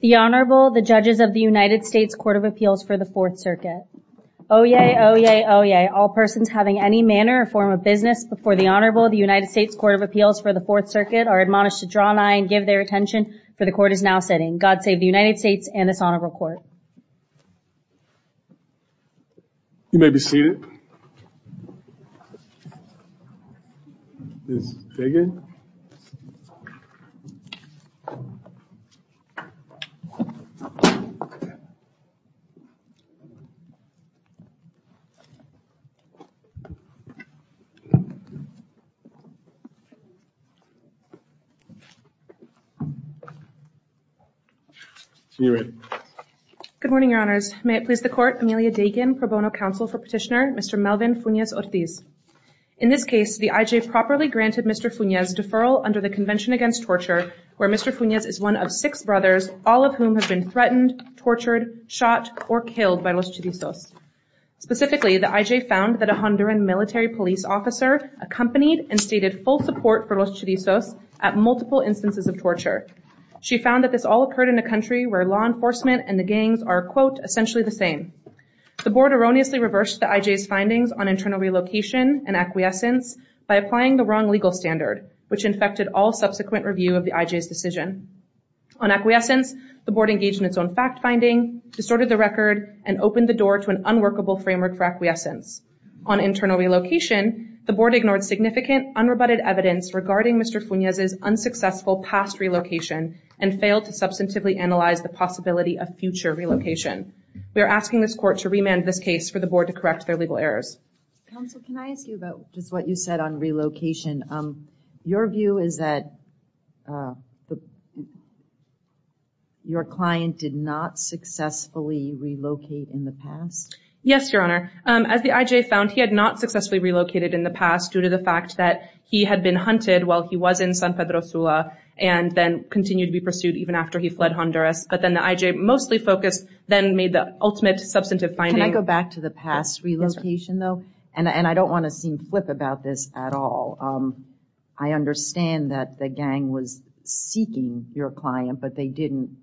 The Honorable, the Judges of the United States Court of Appeals for the Fourth Circuit. Oyez, oyez, oyez, all persons having any manner or form of business before the Honorable of the United States Court of Appeals for the Fourth Circuit are admonished to draw nigh and give their attention, for the Court is now sitting. God save the United States and this Honorable Court. You may be seated. Ms. Fagan. You may be seated. You may be seated. Good morning, Your Honors. May it please the Court, Amelia Dagan, Pro Bono Counsel for Petitioner, Mr. Melvin Funez-Ortiz. In this case, the IJ properly granted Mr. Funez deferral under the Convention Against Torture, where Mr. Funez is one of six brothers, all of whom have been threatened, tortured, shot, or killed by Los Chirizos. Specifically, the IJ found that a Honduran military police officer accompanied and stated full support for Los Chirizos at multiple instances of torture. She found that this all occurred in a country where law enforcement and the gangs are, quote, essentially the same. The Board erroneously reversed the IJ's findings on internal relocation and acquiescence by applying the wrong legal standard, which infected all subsequent review of the IJ's decision. On acquiescence, the Board engaged in its own fact-finding, distorted the record, and opened the door to an unworkable framework for acquiescence. On internal relocation, the Board ignored significant, unrebutted evidence regarding Mr. Funez's unsuccessful past relocation and failed to substantively analyze the possibility of future relocation. We are asking this Court to remand this case for the Board to correct their legal errors. Counsel, can I ask you about just what you said on relocation? Your view is that your client did not successfully relocate in the past? Yes, Your Honor. As the IJ found, he had not successfully relocated in the past due to the fact that he had been hunted while he was in San Pedro Sula and then continued to be pursued even after he fled Honduras. But then the IJ mostly focused, then made the ultimate substantive finding. Can I go back to the past relocation, though? Yes, Your Honor. And I don't want to seem flip about this at all. I understand that the gang was seeking your client, but they didn't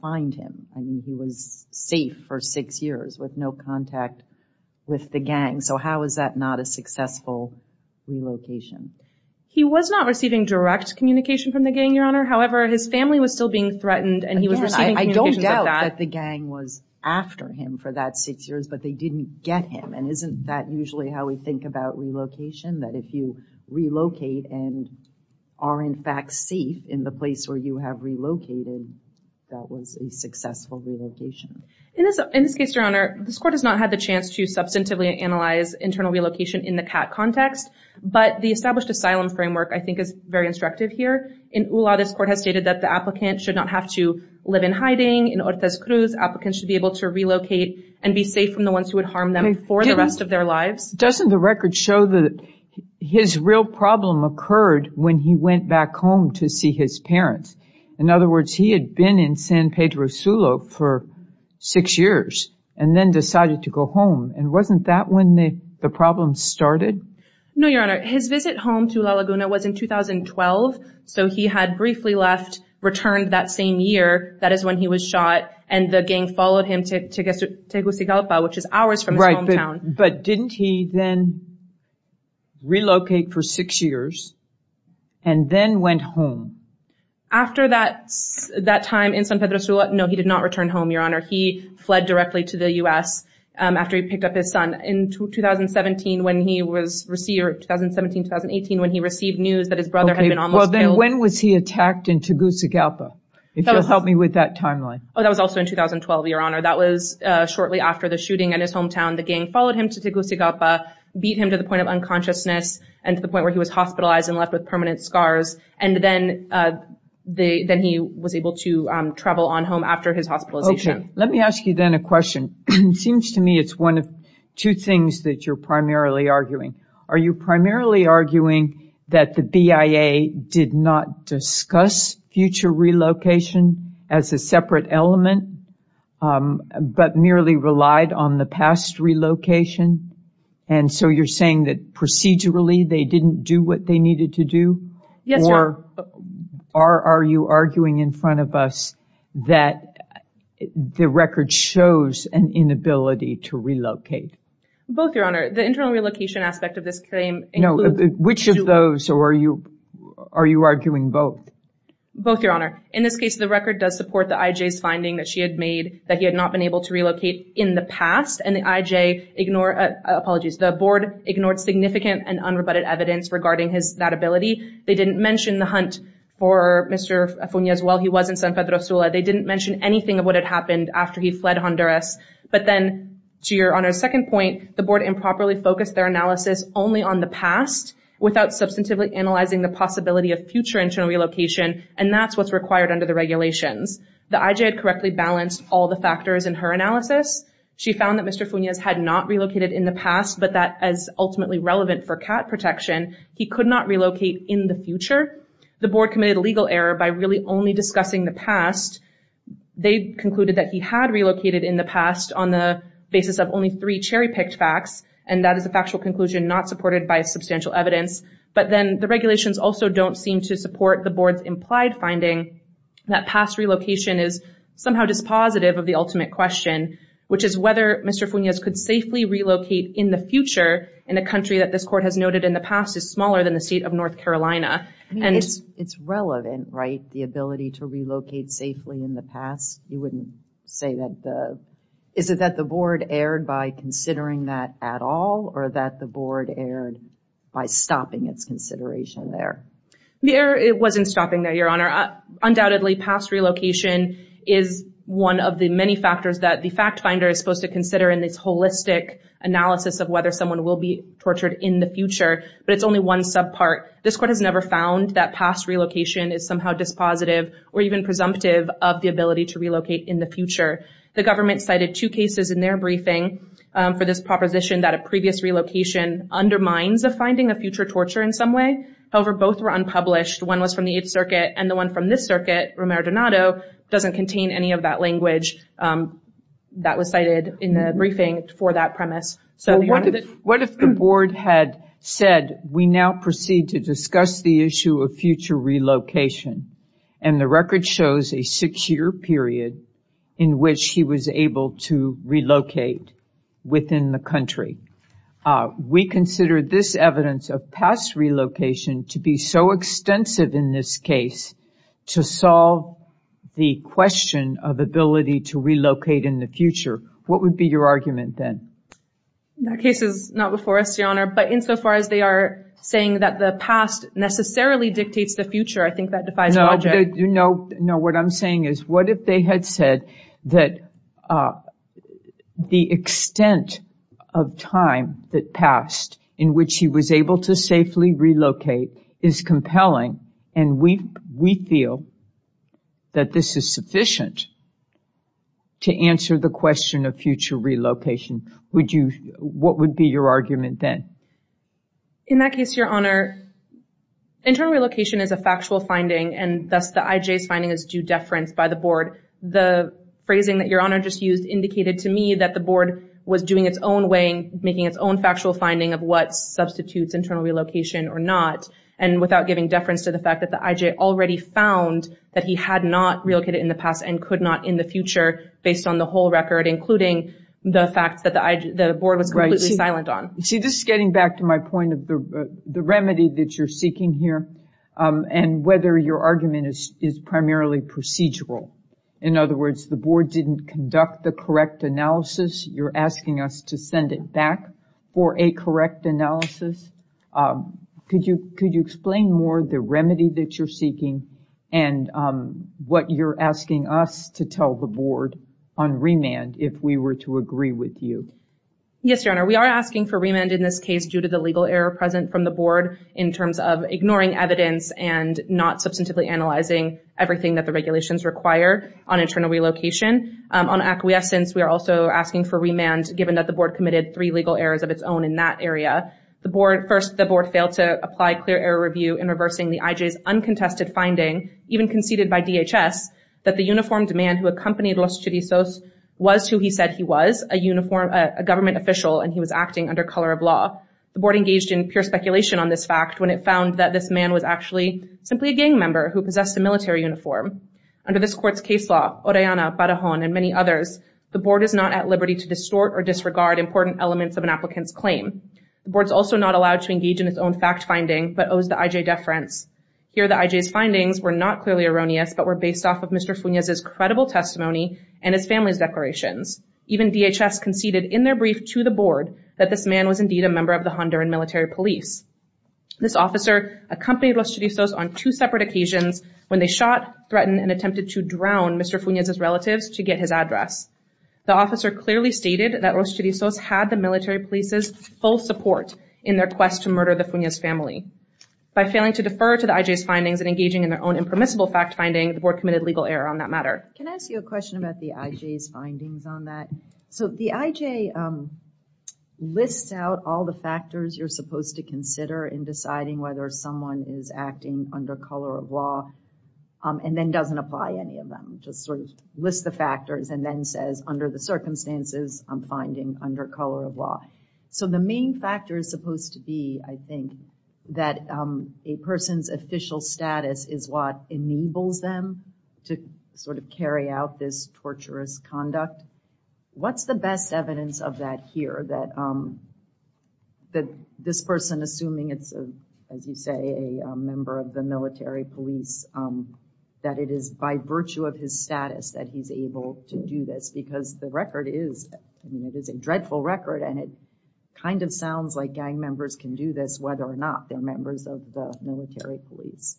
find him. I mean, he was safe for six years with no contact with the gang. So how is that not a successful relocation? He was not receiving direct communication from the gang, Your Honor. However, his family was still being threatened, and he was receiving communications of that. Again, I don't doubt that the gang was after him for that six years, but they didn't get him. And isn't that usually how we think about relocation, that if you relocate and are in fact safe in the place where you have relocated, that was a successful relocation? In this case, Your Honor, this Court has not had the chance to substantively analyze internal relocation in the CAT context. But the established asylum framework, I think, is very instructive here. In ULA, this Court has stated that the applicant should not have to live in hiding. In Ortez Cruz, applicants should be able to relocate and be safe from the ones who would harm them for the rest of their lives. Doesn't the record show that his real problem occurred when he went back home to see his parents? In other words, he had been in San Pedro Sulo for six years and then decided to go home. And wasn't that when the problem started? No, Your Honor. His visit home to La Laguna was in 2012. So he had briefly left, returned that same year. That is when he was shot, and the gang followed him to Tegucigalpa, which is hours from his hometown. Right, but didn't he then relocate for six years and then went home? After that time in San Pedro Sulo, no, he did not return home, Your Honor. He fled directly to the U.S. after he picked up his son. In 2017-2018, when he received news that his brother had been almost killed. Okay, well then when was he attacked in Tegucigalpa? If you'll help me with that timeline. Oh, that was also in 2012, Your Honor. That was shortly after the shooting in his hometown. The gang followed him to Tegucigalpa, beat him to the point of unconsciousness, and to the point where he was hospitalized and left with permanent scars. And then he was able to travel on home after his hospitalization. Okay, let me ask you then a question. It seems to me it's one of two things that you're primarily arguing. Are you primarily arguing that the BIA did not discuss future relocation as a separate element, but merely relied on the past relocation? And so you're saying that procedurally they didn't do what they needed to do? Yes, Your Honor. Are you arguing in front of us that the record shows an inability to relocate? Both, Your Honor. The internal relocation aspect of this claim includes... No, which of those, or are you arguing both? Both, Your Honor. In this case, the record does support the IJ's finding that she had made that he had not been able to relocate in the past, and the IJ ignored... Apologies, the board ignored significant and unrebutted evidence regarding that ability. They didn't mention the hunt for Mr. Funes while he was in San Pedro Sula. They didn't mention anything of what had happened after he fled Honduras. But then, to Your Honor's second point, the board improperly focused their analysis only on the past without substantively analyzing the possibility of future internal relocation, and that's what's required under the regulations. The IJ had correctly balanced all the factors in her analysis. She found that Mr. Funes had not relocated in the past, but that as ultimately relevant for cat protection, he could not relocate in the future. The board committed a legal error by really only discussing the past. They concluded that he had relocated in the past on the basis of only three cherry-picked facts, and that is a factual conclusion not supported by substantial evidence. But then the regulations also don't seem to support the board's implied finding that past relocation is somehow dispositive of the ultimate question, which is whether Mr. Funes could safely relocate in the future in a country that this court has noted in the past is smaller than the state of North Carolina. And it's relevant, right, the ability to relocate safely in the past? You wouldn't say that the... Is it that the board erred by considering that at all, or that the board erred by stopping its consideration there? The error wasn't stopping there, Your Honor. Undoubtedly, past relocation is one of the many factors that the fact finder is supposed to consider in this holistic analysis of whether someone will be tortured in the future, but it's only one subpart. This court has never found that past relocation is somehow dispositive or even presumptive of the ability to relocate in the future. The government cited two cases in their briefing for this proposition that a previous relocation undermines the finding of future torture in some way. However, both were unpublished. One was from the Eighth Circuit, and the one from this circuit, Romero Donato, doesn't contain any of that language that was cited in the briefing for that premise. What if the board had said, we now proceed to discuss the issue of future relocation, and the record shows a six-year period in which he was able to relocate within the country. We consider this evidence of past relocation to be so extensive in this case to solve the question of ability to relocate in the future. What would be your argument then? That case is not before us, Your Honor, but insofar as they are saying that the past necessarily dictates the future, I think that defies logic. No, what I'm saying is, what if they had said that the extent of time that passed in which he was able to safely relocate is compelling, and we feel that this is sufficient to answer the question of future relocation. What would be your argument then? In that case, Your Honor, internal relocation is a factual finding, and thus the IJ's finding is due deference by the board. The phrasing that Your Honor just used indicated to me that the board was doing its own way, making its own factual finding of what substitutes internal relocation or not, and without giving deference to the fact that the IJ already found that he had not relocated in the past and could not in the future based on the whole record, including the fact that the board was completely silent on. See, this is getting back to my point of the remedy that you're seeking here and whether your argument is primarily procedural. In other words, the board didn't conduct the correct analysis. You're asking us to send it back for a correct analysis. Could you explain more the remedy that you're seeking and what you're asking us to tell the board on remand, if we were to agree with you? Yes, Your Honor. We are asking for remand in this case due to the legal error present from the board in terms of ignoring evidence and not substantively analyzing everything that the regulations require on internal relocation. On acquiescence, we are also asking for remand given that the board committed three legal errors of its own in that area. First, the board failed to apply clear error review in reversing the IJ's uncontested finding, even conceded by DHS, that the uniformed man who accompanied Los Chirizos was who he said he was, a government official, and he was acting under color of law. The board engaged in pure speculation on this fact when it found that this man was actually simply a gang member who possessed a military uniform. Under this court's case law, Orellana, Barajon, and many others, the board is not at liberty to distort or disregard important elements of an applicant's claim. The board is also not allowed to engage in its own fact finding but owes the IJ deference. Here, the IJ's findings were not clearly erroneous but were based off of Mr. Funes' credible testimony and his family's declarations. Even DHS conceded in their brief to the board that this man was indeed a member of the Honduran military police. This officer accompanied Los Chirizos on two separate occasions when they shot, threatened, and attempted to drown Mr. Funes' relatives to get his address. The officer clearly stated that Los Chirizos had the military police's full support in their quest to murder the Funes family. By failing to defer to the IJ's findings and engaging in their own impermissible fact finding, the board committed legal error on that matter. Can I ask you a question about the IJ's findings on that? So the IJ lists out all the factors you're supposed to consider in deciding whether someone is acting under color of law and then doesn't apply any of them, just sort of lists the factors and then says, under the circumstances, I'm finding under color of law. So the main factor is supposed to be, I think, that a person's official status is what enables them to sort of carry out this torturous conduct. What's the best evidence of that here, that this person, assuming it's, as you say, a member of the military police, that it is by virtue of his status that he's able to do this because the record is, I mean, it is a dreadful record and it kind of sounds like gang members can do this whether or not they're members of the military police.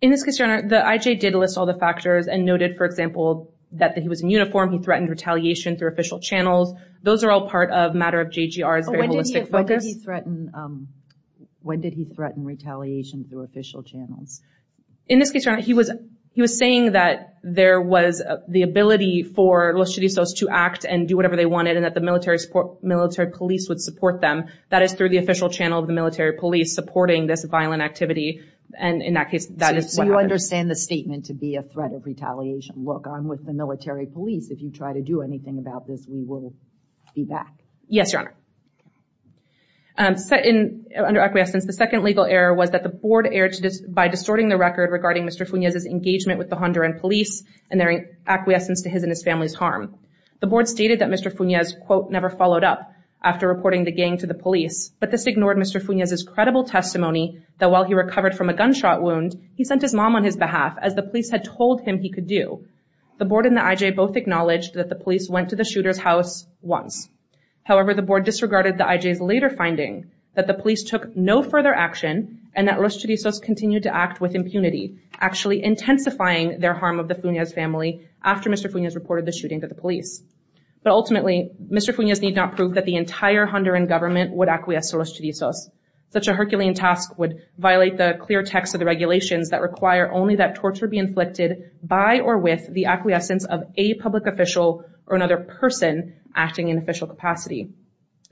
In this case, Your Honor, the IJ did list all the factors and noted, for example, that he was in uniform, he threatened retaliation through official channels. Those are all part of a matter of JGR's very holistic focus. When did he threaten retaliation through official channels? In this case, Your Honor, he was saying that there was the ability for Los Chiristas to act and do whatever they wanted and that the military police would support them. That is through the official channel of the military police supporting this violent activity. And in that case, that is what happened. So you understand the statement to be a threat of retaliation. Look, I'm with the military police. If you try to do anything about this, we will be back. Yes, Your Honor. Under acquiescence, the second legal error was that the board erred by distorting the record regarding Mr. Fuñez's engagement with the Honduran police and their acquiescence to his and his family's harm. The board stated that Mr. Fuñez, quote, never followed up after reporting the gang to the police, but this ignored Mr. Fuñez's credible testimony that while he recovered from a gunshot wound, he sent his mom on his behalf, as the police had told him he could do. The board and the IJ both acknowledged that the police went to the shooter's house once. However, the board disregarded the IJ's later finding that the police took no further action and that Los Chiristas continued to act with impunity, actually intensifying their harm of the Fuñez family after Mr. Fuñez reported the shooting to the police. But ultimately, Mr. Fuñez did not prove that the entire Honduran government would acquiesce to Los Chiristas. Such a Herculean task would violate the clear text of the regulations that require only that torture be inflicted by or with the acquiescence of a public official or another person acting in official capacity.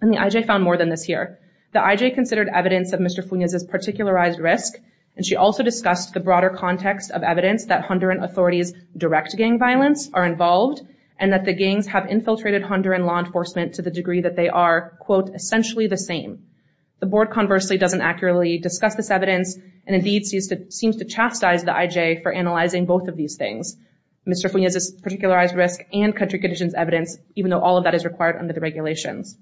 And the IJ found more than this here. The IJ considered evidence of Mr. Fuñez's particularized risk, and she also discussed the broader context of evidence that Honduran authorities direct gang violence are involved and that the gangs have infiltrated Honduran law enforcement to the degree that they are, quote, essentially the same. The board, conversely, doesn't accurately discuss this evidence and indeed seems to chastise the IJ for analyzing both of these things, Mr. Fuñez's particularized risk and country conditions evidence, even though all of that is required under the regulations.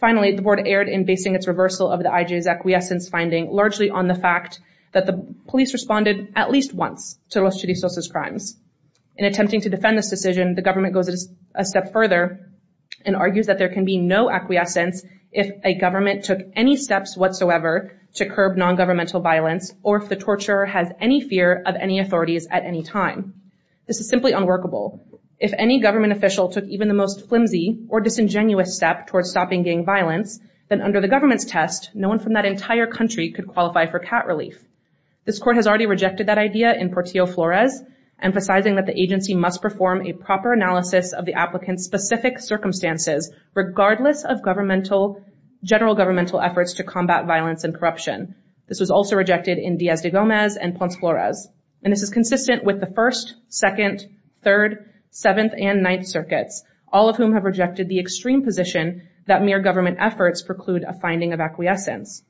Finally, the board erred in basing its reversal of the IJ's acquiescence finding largely on the fact that the police responded at least once to Los Chiristas' crimes. In attempting to defend this decision, the government goes a step further and argues that there can be no acquiescence if a government took any steps whatsoever to curb non-governmental violence or if the torturer has any fear of any authorities at any time. This is simply unworkable. If any government official took even the most flimsy or disingenuous step towards stopping gang violence, then under the government's test, no one from that entire country could qualify for cat relief. This court has already rejected that idea in Portillo-Flores, emphasizing that the agency must perform a proper analysis of the applicant's specific circumstances regardless of governmental, general governmental efforts to combat violence and corruption. This was also rejected in Diaz de Gomez and Ponce Flores. And this is consistent with the First, Second, Third, Seventh, and Ninth Circuits, all of whom have rejected the extreme position that mere government efforts preclude a finding of acquiescence.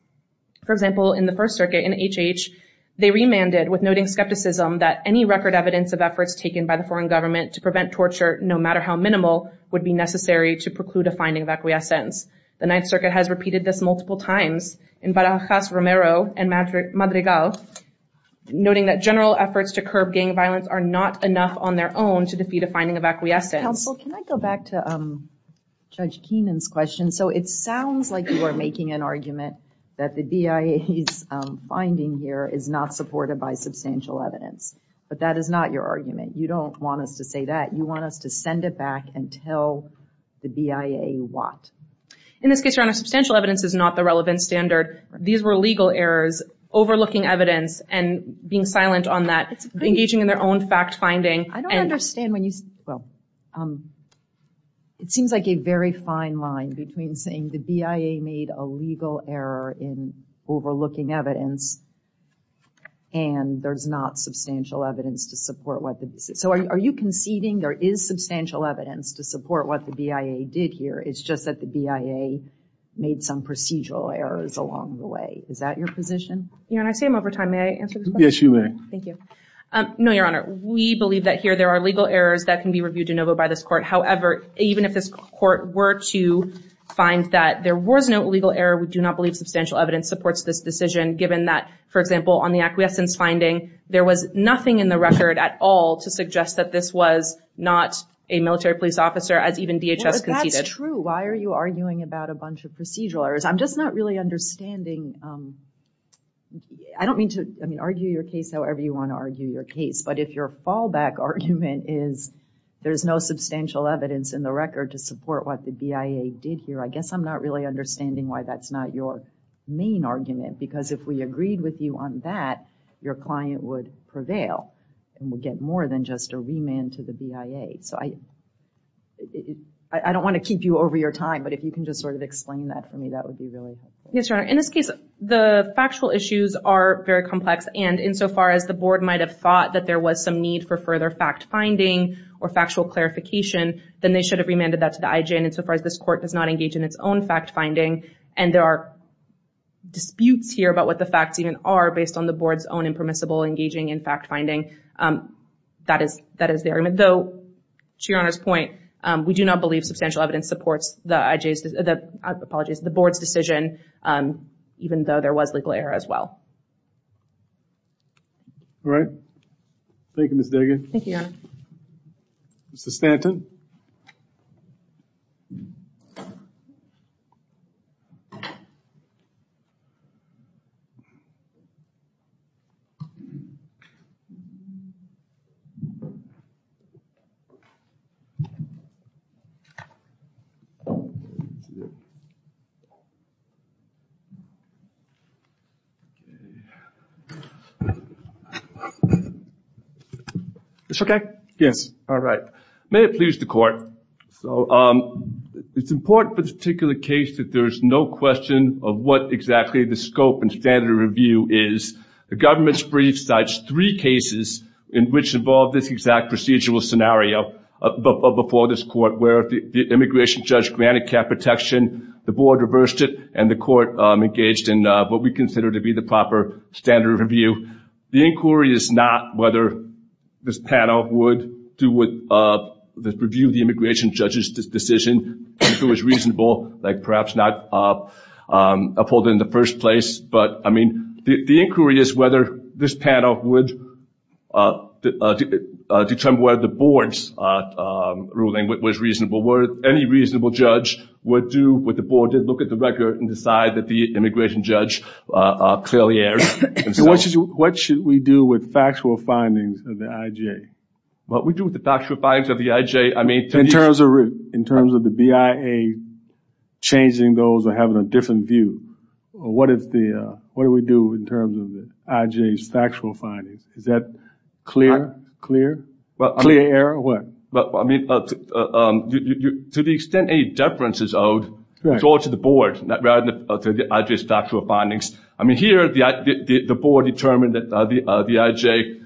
For example, in the First Circuit in H.H., they remanded with noting skepticism that any record evidence of efforts taken by the foreign government to prevent torture no matter how minimal would be necessary to preclude a finding of acquiescence. The Ninth Circuit has repeated this multiple times in Barajas, Romero, and Madrigal, noting that general efforts to curb gang violence are not enough on their own to defeat a finding of acquiescence. Counsel, can I go back to Judge Keenan's question? So it sounds like you are making an argument that the BIA's finding here is not supported by substantial evidence, but that is not your argument. You don't want us to say that. You want us to send it back and tell the BIA what. In this case, Your Honor, substantial evidence is not the relevant standard. These were legal errors overlooking evidence and being silent on that, engaging in their own fact-finding. I don't understand when you say, well, it seems like a very fine line between saying the BIA made a legal error in overlooking evidence and there's not substantial evidence to support what the BIA did. So are you conceding there is substantial evidence to support what the BIA did here? It's just that the BIA made some procedural errors along the way. Is that your position? Your Honor, I say them over time. May I answer this question? Yes, you may. Thank you. No, Your Honor. We believe that here there are legal errors that can be reviewed de novo by this court. However, even if this court were to find that there was no legal error, we do not believe substantial evidence supports this decision, given that, for example, on the acquiescence finding, there was nothing in the record at all to suggest that this was not a military police officer, as even DHS conceded. That's true. Why are you arguing about a bunch of procedural errors? I'm just not really understanding. I don't mean to argue your case however you want to argue your case, but if your fallback argument is there's no substantial evidence in the record to support what the BIA did here, I guess I'm not really understanding why that's not your main argument, because if we agreed with you on that, your client would prevail and would get more than just a remand to the BIA. So I don't want to keep you over your time, but if you can just sort of explain that for me, that would be really helpful. Yes, Your Honor. In this case, the factual issues are very complex, and insofar as the board might have thought that there was some need for further fact-finding or factual clarification, then they should have remanded that to the IJ, and insofar as this court does not engage in its own fact-finding, and there are disputes here about what the facts even are based on the board's own impermissible engaging in fact-finding, that is the argument. Though, to Your Honor's point, we do not believe substantial evidence supports the board's decision, even though there was legal error as well. All right. Thank you, Ms. Dagan. Thank you, Your Honor. Mr. Stanton. It's okay? Yes. All right. May it please the Court. It's important for this particular case that there is no question of what exactly the scope and standard of review is. The government's brief cites three cases in which involve this exact procedural scenario before this court where the immigration judge granted care protection, the board reversed it, and the court engaged in what we consider to be the proper standard of review. The inquiry is not whether this panel would review the immigration judge's decision, if it was reasonable, like perhaps not upheld in the first place. The inquiry is whether this panel would determine whether the board's ruling was reasonable, where any reasonable judge would do what the board did, look at the record and decide that the immigration judge clearly erred. What should we do with factual findings of the IJ? What we do with the factual findings of the IJ, I mean. In terms of the BIA changing those or having a different view. What do we do in terms of the IJ's factual findings? Is that clear? Clear? Clear or what? I mean, to the extent any deference is owed, it's all to the board, rather than to the IJ's factual findings. I mean, here the board determined that the IJ,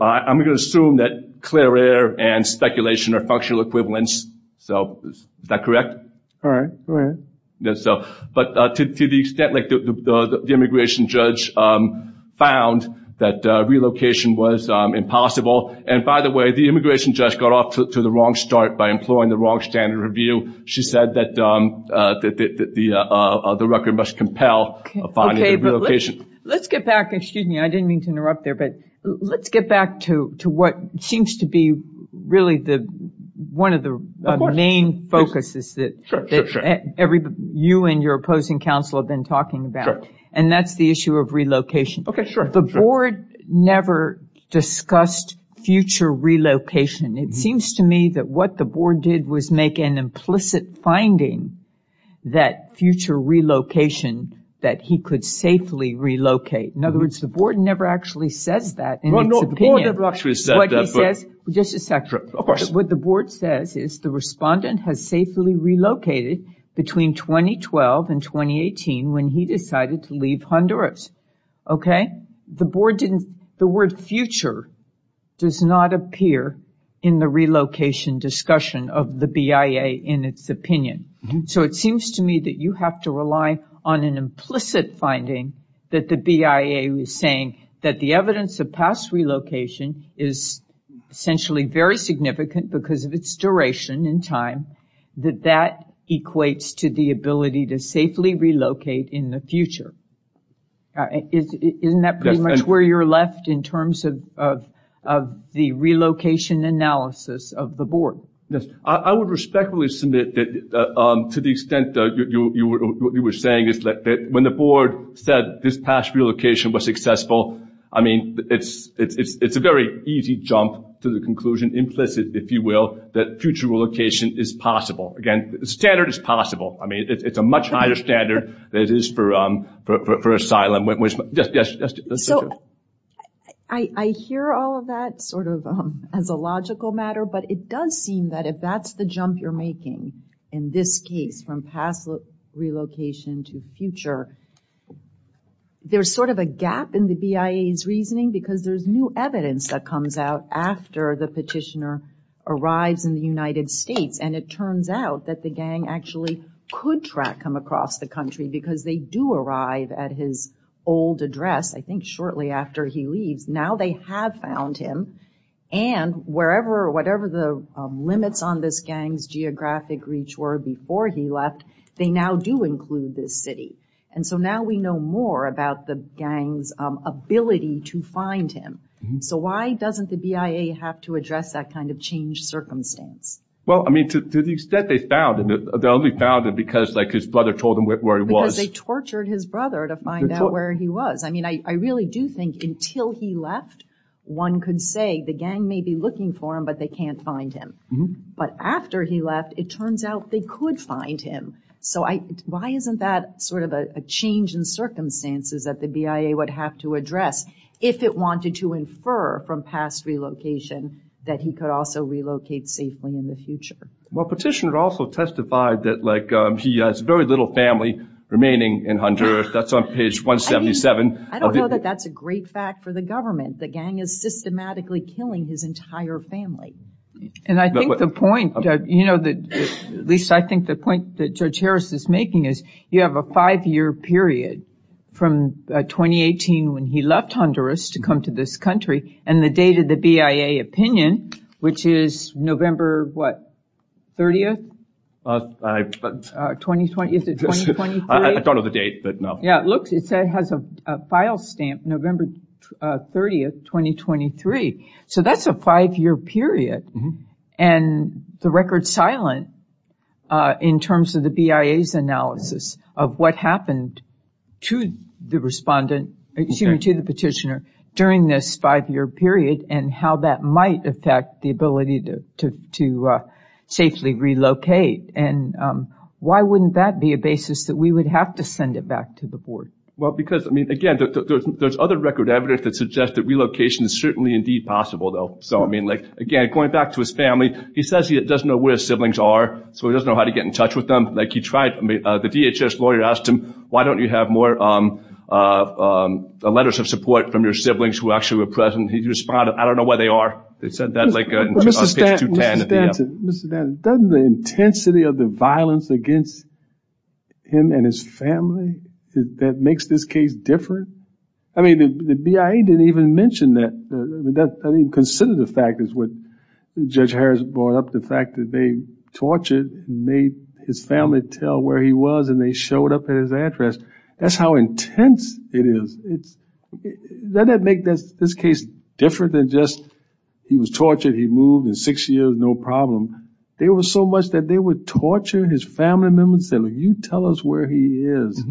I'm going to assume that clear error and speculation are functional equivalents. So is that correct? All right. Go ahead. To the extent that the immigration judge found that relocation was impossible, and by the way, the immigration judge got off to the wrong start by employing the wrong standard of view. She said that the record must compel finding the relocation. Let's get back, excuse me, I didn't mean to interrupt there, but let's get back to what seems to be really one of the main focuses that you and your opposing counsel have been talking about, and that's the issue of relocation. The board never discussed future relocation. It seems to me that what the board did was make an implicit finding that future relocation, that he could safely relocate. In other words, the board never actually says that in its opinion. Just a second. Of course. What the board says is the respondent has safely relocated between 2012 and 2018 when he decided to leave Honduras. Okay? The board didn't, the word future does not appear in the relocation discussion of the BIA in its opinion. It seems to me that you have to rely on an implicit finding that the BIA was saying that the evidence of past relocation is essentially very significant because of its duration in time, that that equates to the ability to safely relocate in the future. Isn't that pretty much where you're left in terms of the relocation analysis of the board? Yes. I would respectfully submit that to the extent that what you were saying is that when the board said this past relocation was successful, I mean it's a very easy jump to the conclusion, implicit, if you will, that future relocation is possible. Again, the standard is possible. I mean it's a much higher standard than it is for asylum. Yes. So, I hear all of that sort of as a logical matter, but it does seem that if that's the jump you're making in this case from past relocation to future, there's sort of a gap in the BIA's reasoning because there's new evidence that comes out after the petitioner arrives in the United States, and it turns out that the gang actually could track him across the country because they do arrive at his old address I think shortly after he leaves. Now they have found him, and whatever the limits on this gang's geographic reach were before he left, they now do include this city. And so now we know more about the gang's ability to find him. So why doesn't the BIA have to address that kind of changed circumstance? Well, I mean, to the extent they found him, they only found him because his brother told them where he was. Because they tortured his brother to find out where he was. I mean I really do think until he left, one could say the gang may be looking for him but they can't find him. But after he left, it turns out they could find him. So why isn't that sort of a change in circumstances that the BIA would have to address if it wanted to infer from past relocation that he could also relocate safely in the future? Well, petitioner also testified that he has very little family remaining in Honduras. That's on page 177. I don't know that that's a great fact for the government. The gang is systematically killing his entire family. And I think the point, you know, at least I think the point that Judge Harris is making is you have a five-year period from 2018 when he left Honduras to come to this country and the date of the BIA opinion, which is November, what, 30th? Is it 2023? I don't know the date, but no. Yeah, it has a file stamp, November 30th, 2023. So that's a five-year period. And the record's silent in terms of the BIA's analysis of what happened to the respondent, excuse me, to the petitioner during this five-year period and how that might affect the ability to safely relocate. And why wouldn't that be a basis that we would have to send it back to the board? Well, because, I mean, again, there's other record evidence that suggests that relocation is certainly indeed possible, though. So, I mean, like, again, going back to his family, he says he doesn't know where his siblings are, so he doesn't know how to get in touch with them. Like he tried, I mean, the DHS lawyer asked him, why don't you have more letters of support from your siblings who actually were present? He responded, I don't know where they are. They said that like on page 210. Mr. Stanton, doesn't the intensity of the violence against him and his family, that makes this case different? I mean, the BIA didn't even mention that. I mean, consider the fact is what Judge Harris brought up, the fact that they tortured and made his family tell where he was and they showed up at his address. That's how intense it is. Doesn't that make this case different than just he was tortured, he moved in six years, no problem? There was so much that they would torture his family members and say, like, you tell us where he is.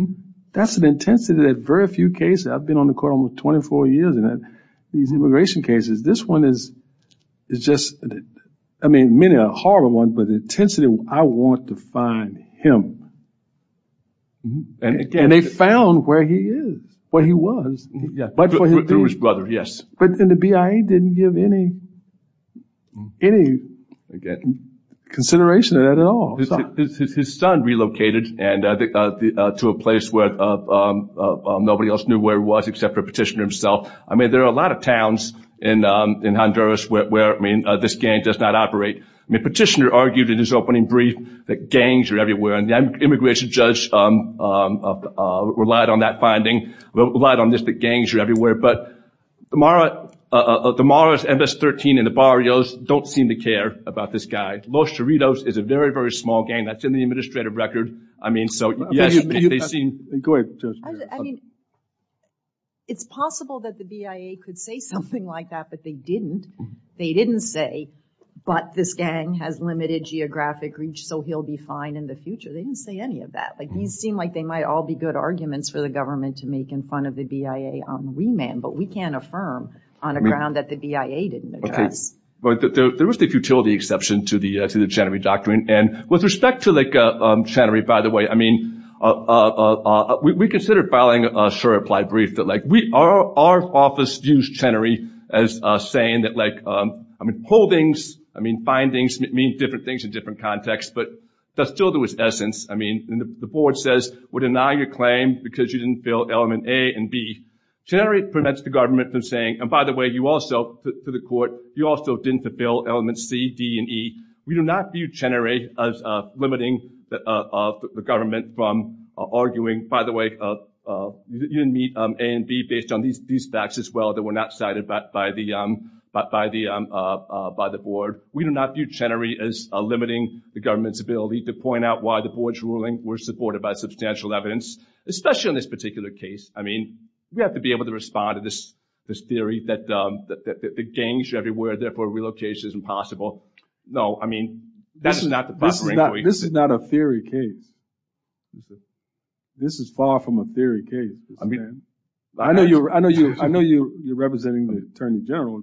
That's an intensity that very few cases, I've been on the court almost 24 years and these immigration cases, this one is just, I mean, many a horrible one, but the intensity, I want to find him. And they found where he is, where he was. Through his brother, yes. But the BIA didn't give any consideration to that at all. His son relocated to a place where nobody else knew where he was except for Petitioner himself. I mean, there are a lot of towns in Honduras where, I mean, this gang does not operate. I mean, Petitioner argued in his opening brief that gangs are everywhere, and the immigration judge relied on that finding, relied on this, that gangs are everywhere. But the Maras, MS-13 and the Barrios don't seem to care about this guy. Los Charritos is a very, very small gang. That's in the administrative record. I mean, so, yes, they seem to care. I mean, it's possible that the BIA could say something like that, but they didn't. They didn't say, but this gang has limited geographic reach, so he'll be fine in the future. They didn't say any of that. Like, these seem like they might all be good arguments for the government to make in front of the BIA on remand, but we can't affirm on a ground that the BIA didn't address. There was the futility exception to the Chenery Doctrine, and with respect to, like, Chenery, by the way, I mean, we considered filing a short applied brief that, like, our office used Chenery as saying that, like, I mean, holdings, I mean, findings mean different things in different contexts, but that still was essence. I mean, the board says, we deny your claim because you didn't fill element A and B. Chenery prevents the government from saying, and by the way, you also, to the court, you also didn't fill element C, D, and E. We do not view Chenery as limiting the government from arguing, by the way, you didn't meet A and B based on these facts as well that were not cited by the board. We do not view Chenery as limiting the government's ability to point out why the board's ruling was supported by substantial evidence, especially on this particular case. I mean, we have to be able to respond to this theory that the gangs are everywhere, therefore relocation is impossible. No, I mean, this is not the proper inquiry. This is not a theory case. This is far from a theory case. I mean, I know you're representing the Attorney General,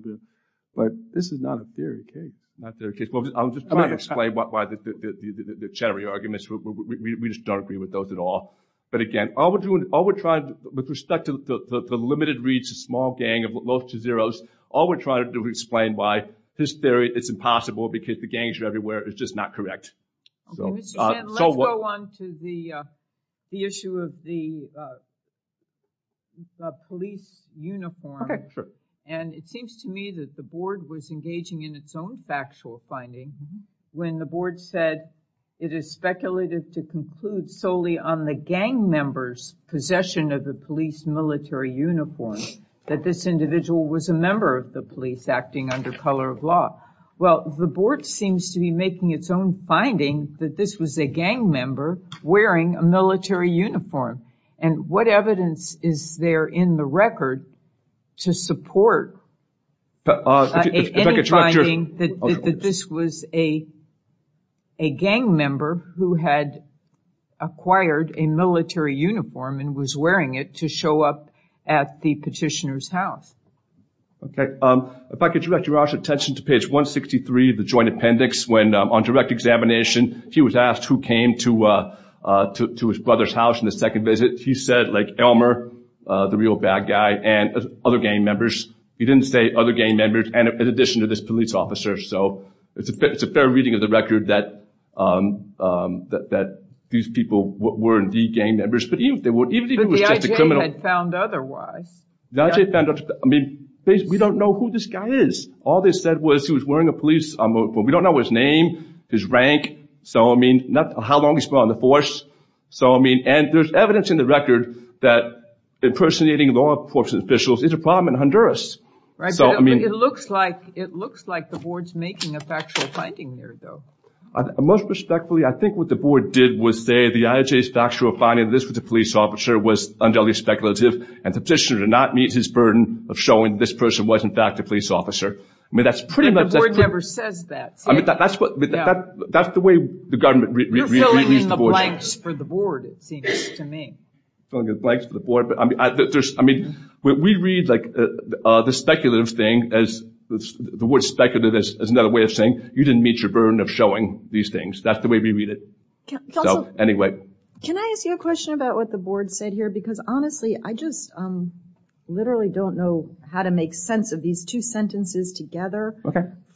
but this is not a theory case. Not a theory case. I'm just trying to explain why the Chenery arguments, we just don't agree with those at all. But again, all we're doing, all we're trying, with respect to the limited reach of small gang of low to zeros, all we're trying to do is explain why this theory, it's impossible because the gangs are everywhere. It's just not correct. Okay, Mr. Chenery, let's go on to the issue of the police uniform. Okay, sure. And it seems to me that the board was engaging in its own factual finding when the board said it is speculative to conclude solely on the gang members' possession of the police military uniform, that this individual was a member of the police acting under color of law. Well, the board seems to be making its own finding that this was a gang member wearing a military uniform. And what evidence is there in the record to support any finding that this was a gang member who had acquired a military uniform and was wearing it to show up at the petitioner's house? Okay. If I could direct your attention to page 163 of the joint appendix, when on direct examination he was asked who came to his brother's house in the second visit. He said, like, Elmer, the real bad guy, and other gang members. He didn't say other gang members in addition to this police officer. So it's a fair reading of the record that these people were indeed gang members. But even if he was just a criminal. But the IJ had found otherwise. The IJ found otherwise. I mean, we don't know who this guy is. All they said was he was wearing a police uniform. We don't know his name, his rank, how long he's been on the force. And there's evidence in the record that impersonating law enforcement officials is a problem in Honduras. It looks like the board's making a factual finding there, though. Most respectfully, I think what the board did was say the IJ's factual finding that this was a police officer was undoubtedly speculative and the petitioner did not meet his burden of showing this person was, in fact, a police officer. The board never says that. That's the way the government reads the board. You're filling in the blanks for the board, it seems to me. Filling in the blanks for the board. I mean, we read, like, the speculative thing, the word speculative is another way of saying you didn't meet your burden of showing these things. That's the way we read it. Anyway. Can I ask you a question about what the board said here? Because, honestly, I just literally don't know how to make sense of these two sentences together.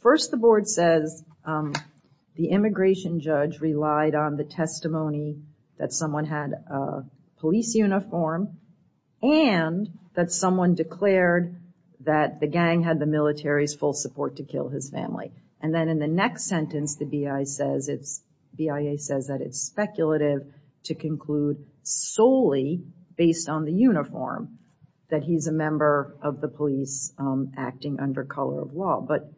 First, the board says the immigration judge relied on the testimony that someone had a police uniform and that someone declared that the gang had the military's full support to kill his family. And then in the next sentence, the BIA says that it's speculative to conclude solely based on the uniform that he's a member of the police acting under color of law. But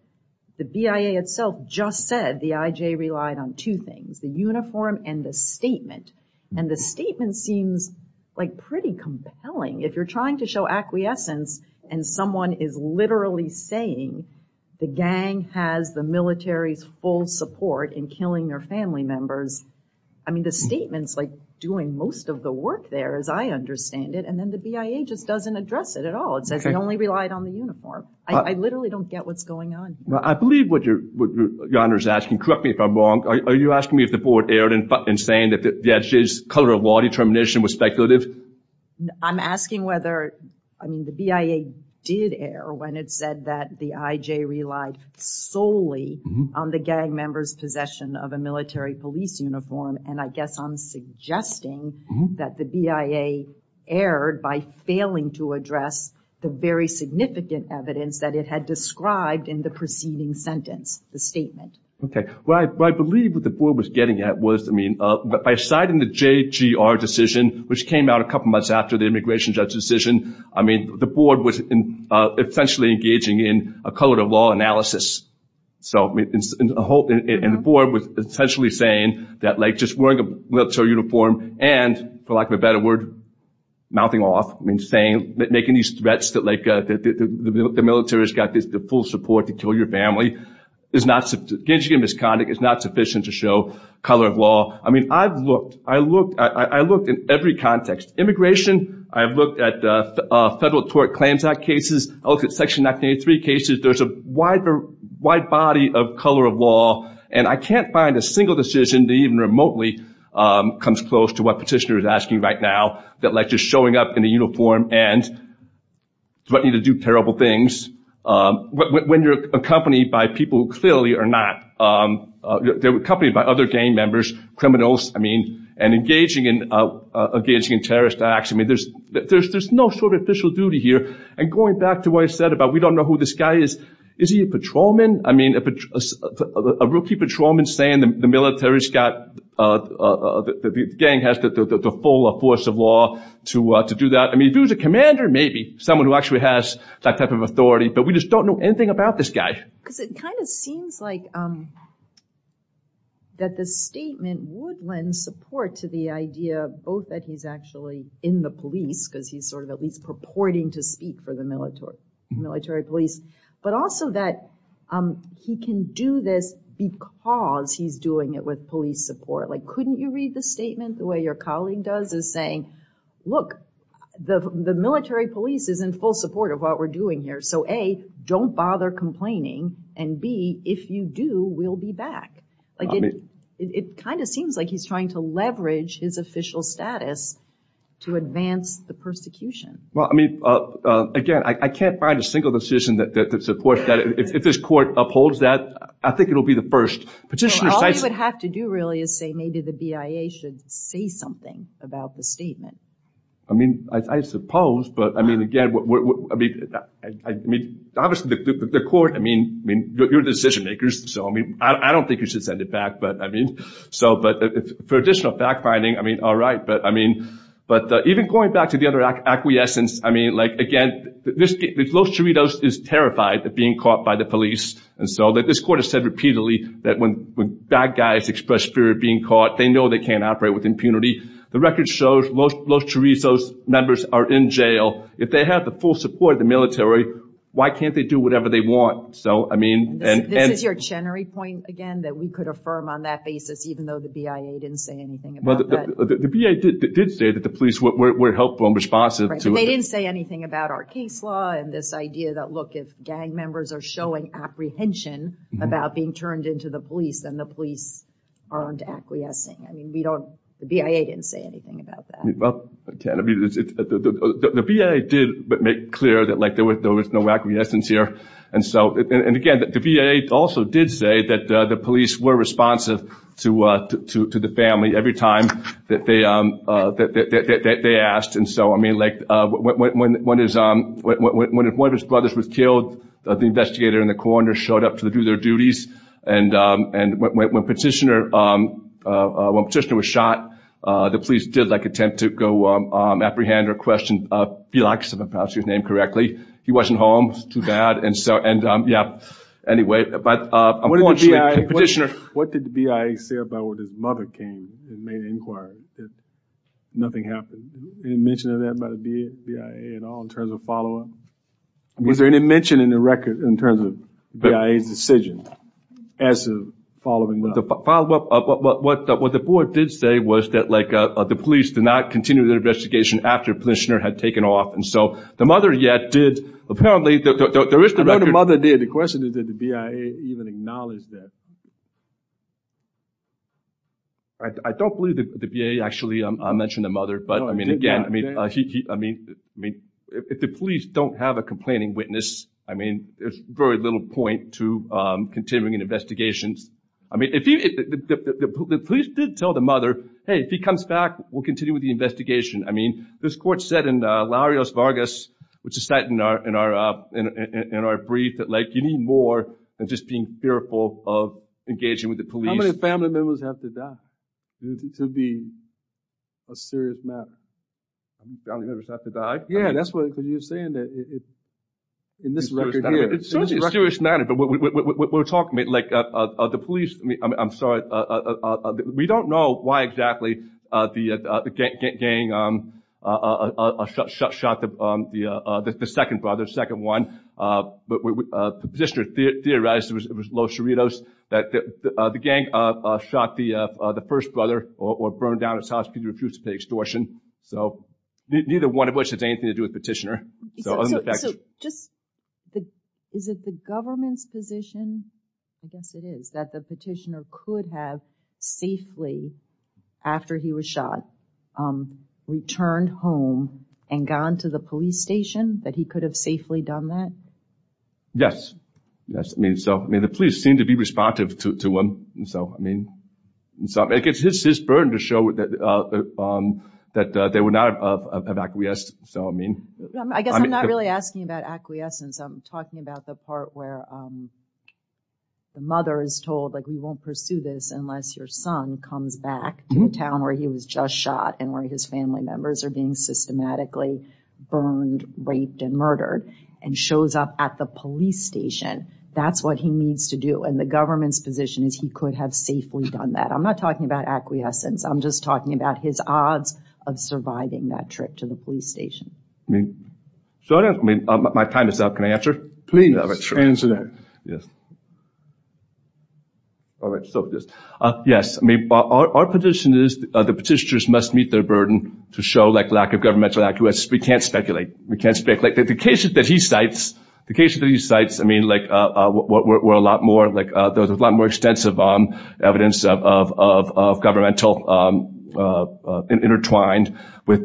the BIA itself just said the IJ relied on two things, the uniform and the statement. And the statement seems, like, pretty compelling. If you're trying to show acquiescence and someone is literally saying the gang has the military's full support in killing their family members, I mean, the statement's, like, doing most of the work there, as I understand it. And then the BIA just doesn't address it at all. It says they only relied on the uniform. I literally don't get what's going on here. I believe what your honor is asking. Correct me if I'm wrong. Are you asking me if the board erred in saying that the IJ's color of law determination was speculative? I'm asking whether, I mean, the BIA did err when it said that the IJ relied solely on the gang members' possession of a military police uniform. And I guess I'm suggesting that the BIA erred by failing to address the very significant evidence that it had described in the preceding sentence, the statement. Okay. Well, I believe what the board was getting at was, I mean, by citing the JGR decision, which came out a couple of months after the immigration judge decision, I mean, the board was essentially engaging in a color of law analysis. And the board was essentially saying that, like, just wearing a military uniform and, for lack of a better word, mouthing off, making these threats that, like, the military has got the full support to kill your family, engaging in misconduct is not sufficient to show color of law. I mean, I've looked. I looked. I looked in every context. Immigration, I've looked at Federal Tort Claims Act cases. I looked at Section 1983 cases. There's a wide body of color of law. And I can't find a single decision that even remotely comes close to what Petitioner is asking right now, that, like, when you're accompanied by people who clearly are not, they're accompanied by other gang members, criminals, I mean, and engaging in terrorist acts. I mean, there's no sort of official duty here. And going back to what I said about we don't know who this guy is, is he a patrolman? I mean, a rookie patrolman saying the military's got, the gang has the full force of law to do that. I mean, if he was a commander, maybe someone who actually has that type of authority. But we just don't know anything about this guy. Because it kind of seems like that the statement would lend support to the idea both that he's actually in the police, because he's sort of at least purporting to speak for the military police, but also that he can do this because he's doing it with police support. Like, couldn't you read the statement the way your colleague does, is saying, look, the military police is in full support of what we're doing here. So, A, don't bother complaining, and B, if you do, we'll be back. I mean, it kind of seems like he's trying to leverage his official status to advance the persecution. Well, I mean, again, I can't find a single decision that supports that. If this court upholds that, I think it will be the first. Petitioner says, What you would have to do, really, is say maybe the BIA should say something about the statement. I mean, I suppose. But, I mean, again, obviously the court, I mean, you're decision-makers, so I don't think you should send it back. But for additional fact-finding, I mean, all right. But even going back to the other acquiescence, I mean, like, again, Los Chiritos is terrified of being caught by the police. And so this court has said repeatedly that when bad guys express fear of being caught, they know they can't operate with impunity. The record shows Los Chiritos members are in jail. If they have the full support of the military, why can't they do whatever they want? This is your Chenery point, again, that we could affirm on that basis even though the BIA didn't say anything about that. The BIA did say that the police were helpful and responsive. They didn't say anything about our case law and this idea that, look, if gang members are showing apprehension about being turned into the police, then the police aren't acquiescing. I mean, the BIA didn't say anything about that. The BIA did make clear that, like, there was no acquiescence here. And, again, the BIA also did say that the police were responsive to the family every time that they asked. And so, I mean, like, when one of his brothers was killed, the investigator in the corner showed up to do their duties. And when Petitioner was shot, the police did, like, attempt to go apprehend or question Felix, if I pronounce your name correctly. He wasn't home. It was too bad. And, yeah, anyway, but unfortunately Petitioner. What did the BIA say about when his mother came and made inquiries? Nothing happened. Any mention of that by the BIA at all in terms of follow-up? Was there any mention in the record in terms of BIA's decision as to following up? What the board did say was that, like, the police did not continue their investigation after Petitioner had taken off. And so the mother, yeah, did. Apparently there is the record. I know the mother did. The question is, did the BIA even acknowledge that? I don't believe the BIA actually mentioned the mother. But, I mean, again, I mean, if the police don't have a complaining witness, I mean, there's very little point to continuing an investigation. I mean, the police did tell the mother, hey, if he comes back, we'll continue with the investigation. I mean, this court said in Larios Vargas, which is cited in our brief, that, like, you need more than just being fearful of engaging with the police. How many family members have to die to be a serious matter? Family members have to die? Yeah, that's what you're saying in this record here. It's a serious matter, but we're talking, like, the police, I'm sorry, we don't know why exactly the gang shot the second brother, second one. The petitioner theorized it was Los Chiritos, that the gang shot the first brother or burned down his house because he refused to pay extortion. So neither one of which has anything to do with the petitioner. So just is it the government's position, I guess it is, that the petitioner could have safely, after he was shot, returned home and gone to the police station, that he could have safely done that? Yes, I mean, so, I mean, the police seem to be responsive to him. And so, I mean, it's his burden to show that they were not acquiesced. So, I mean. I guess I'm not really asking about acquiescence. I'm talking about the part where the mother is told, like, we won't pursue this unless your son comes back to a town where he was just shot and where his family members are being systematically burned, raped, and murdered, and shows up at the police station. That's what he needs to do. And the government's position is he could have safely done that. I'm not talking about acquiescence. I'm just talking about his odds of surviving that trip to the police station. So, I mean, my time is up. Can I answer? Please answer that. All right. So, yes. I mean, our position is the petitioners must meet their burden to show, like, lack of governmental acquiescence. We can't speculate. We can't speculate. Like, the cases that he cites, I mean, like, were a lot more, like, there was a lot more extensive evidence of governmental intertwined with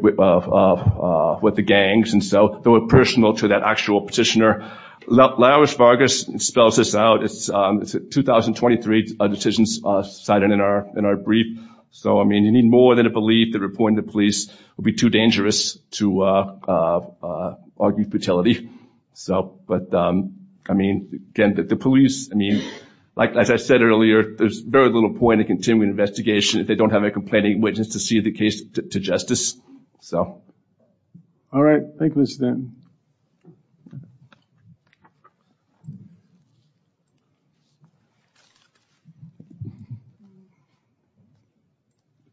the gangs. And so, they were personal to that actual petitioner. Laris Vargas spells this out. It's a 2023 decision cited in our brief. So, I mean, you need more than a belief that reporting to police would be too dangerous to argue futility. So, but, I mean, again, the police, I mean, like I said earlier, there's very little point in continuing the investigation if they don't have a complaining witness to see the case to justice. So. All right. Thank you, Mr. Denton.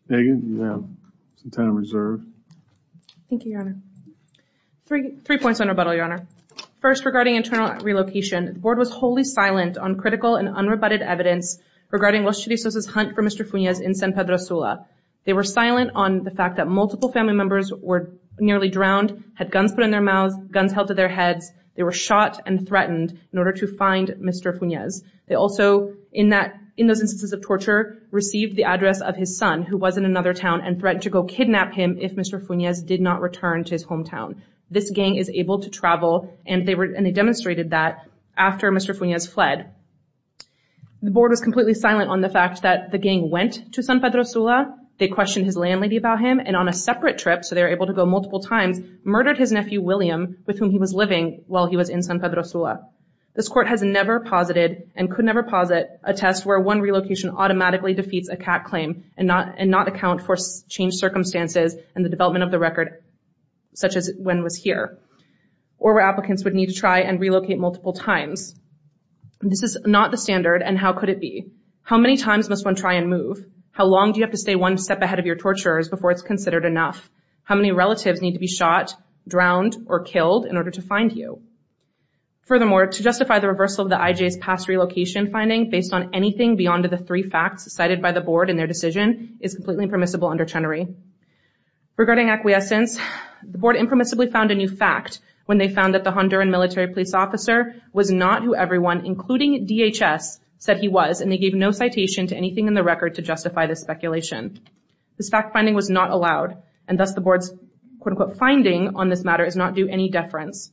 Megan, you have some time reserved. Thank you, Your Honor. Three points on rebuttal, Your Honor. First, regarding internal relocation, the board was wholly silent on critical and unrebutted evidence regarding Los Chirisos' hunt for Mr. Funes in San Pedro Sula. They were silent on the fact that multiple family members were nearly drowned, had guns put in their mouths, guns held to their heads, they were shot and threatened in order to find Mr. Funes. They also, in those instances of torture, received the address of his son who was in another town and threatened to go kidnap him if Mr. Funes did not return to his hometown. This gang is able to travel, and they demonstrated that after Mr. Funes fled. The board was completely silent on the fact that the gang went to San Pedro Sula, they questioned his landlady about him, and on a separate trip, so they were able to go multiple times, murdered his nephew, William, with whom he was living while he was in San Pedro Sula. This court has never posited and could never posit a test where one relocation automatically defeats a CAT claim and not account for changed circumstances and the development of the record such as when it was here, or where applicants would need to try and relocate multiple times. This is not the standard, and how could it be? How many times must one try and move? How long do you have to stay one step ahead of your torturers before it's considered enough? How many relatives need to be shot, drowned, or killed in order to find you? Furthermore, to justify the reversal of the IJ's past relocation finding based on anything beyond the three facts cited by the board in their decision is completely impermissible under Chenery. Regarding acquiescence, the board impermissibly found a new fact when they found that the Honduran military police officer was not who everyone, including DHS, said he was, and they gave no citation to anything in the record to justify this speculation. This fact finding was not allowed, and thus the board's quote-unquote finding on this matter is not due any deference.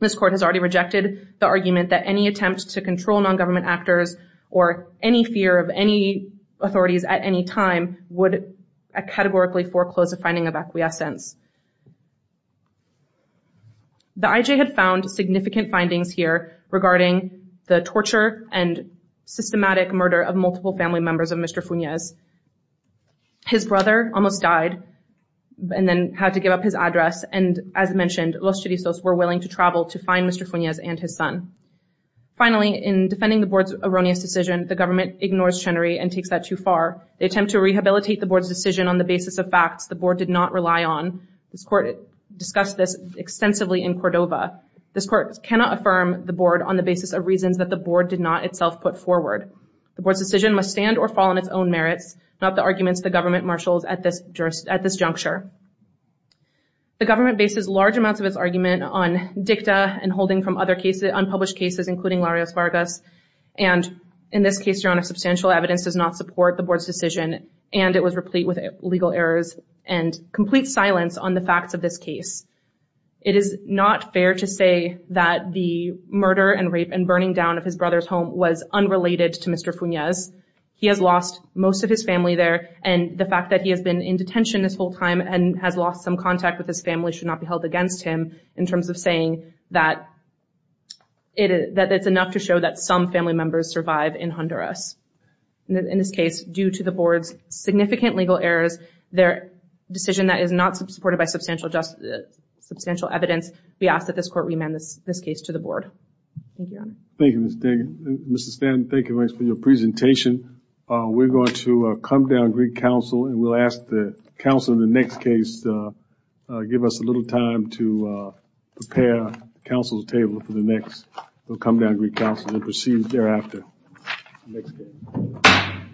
This court has already rejected the argument that any attempt to control non-government actors or any fear of any authorities at any time would categorically foreclose a finding of acquiescence. The IJ had found significant findings here regarding the torture and systematic murder of multiple family members of Mr. Funes. His brother almost died and then had to give up his address, and as mentioned, Los Chirisos were willing to travel to find Mr. Funes and his son. Finally, in defending the board's erroneous decision, the government ignores Chenery and takes that too far. They attempt to rehabilitate the board's decision on the basis of facts the board did not rely on. This court discussed this extensively in Cordova. This court cannot affirm the board on the basis of reasons that the board did not itself put forward. The board's decision must stand or fall on its own merits, not the arguments the government marshals at this juncture. The government bases large amounts of its argument on dicta and holding from other unpublished cases, including Larios Vargas, and in this case, your honor, substantial evidence does not support the board's decision, and it was replete with legal errors and complete silence on the facts of this case. It is not fair to say that the murder and rape and burning down of his brother's home was unrelated to Mr. Funes. He has lost most of his family there, and the fact that he has been in detention this whole time and has lost some contact with his family should not be held against him in terms of saying that it's enough to show that some family members survive in Honduras. In this case, due to the board's significant legal errors, their decision that is not supported by substantial evidence, we ask that this court remand this case to the board. Thank you, your honor. Thank you, Mr. Stanton. Mr. Stanton, thank you very much for your presentation. We're going to come down and greet counsel, and we'll ask that counsel in the next case give us a little time to prepare counsel's table for the next. We'll come down and greet counsel and proceed thereafter. Next case.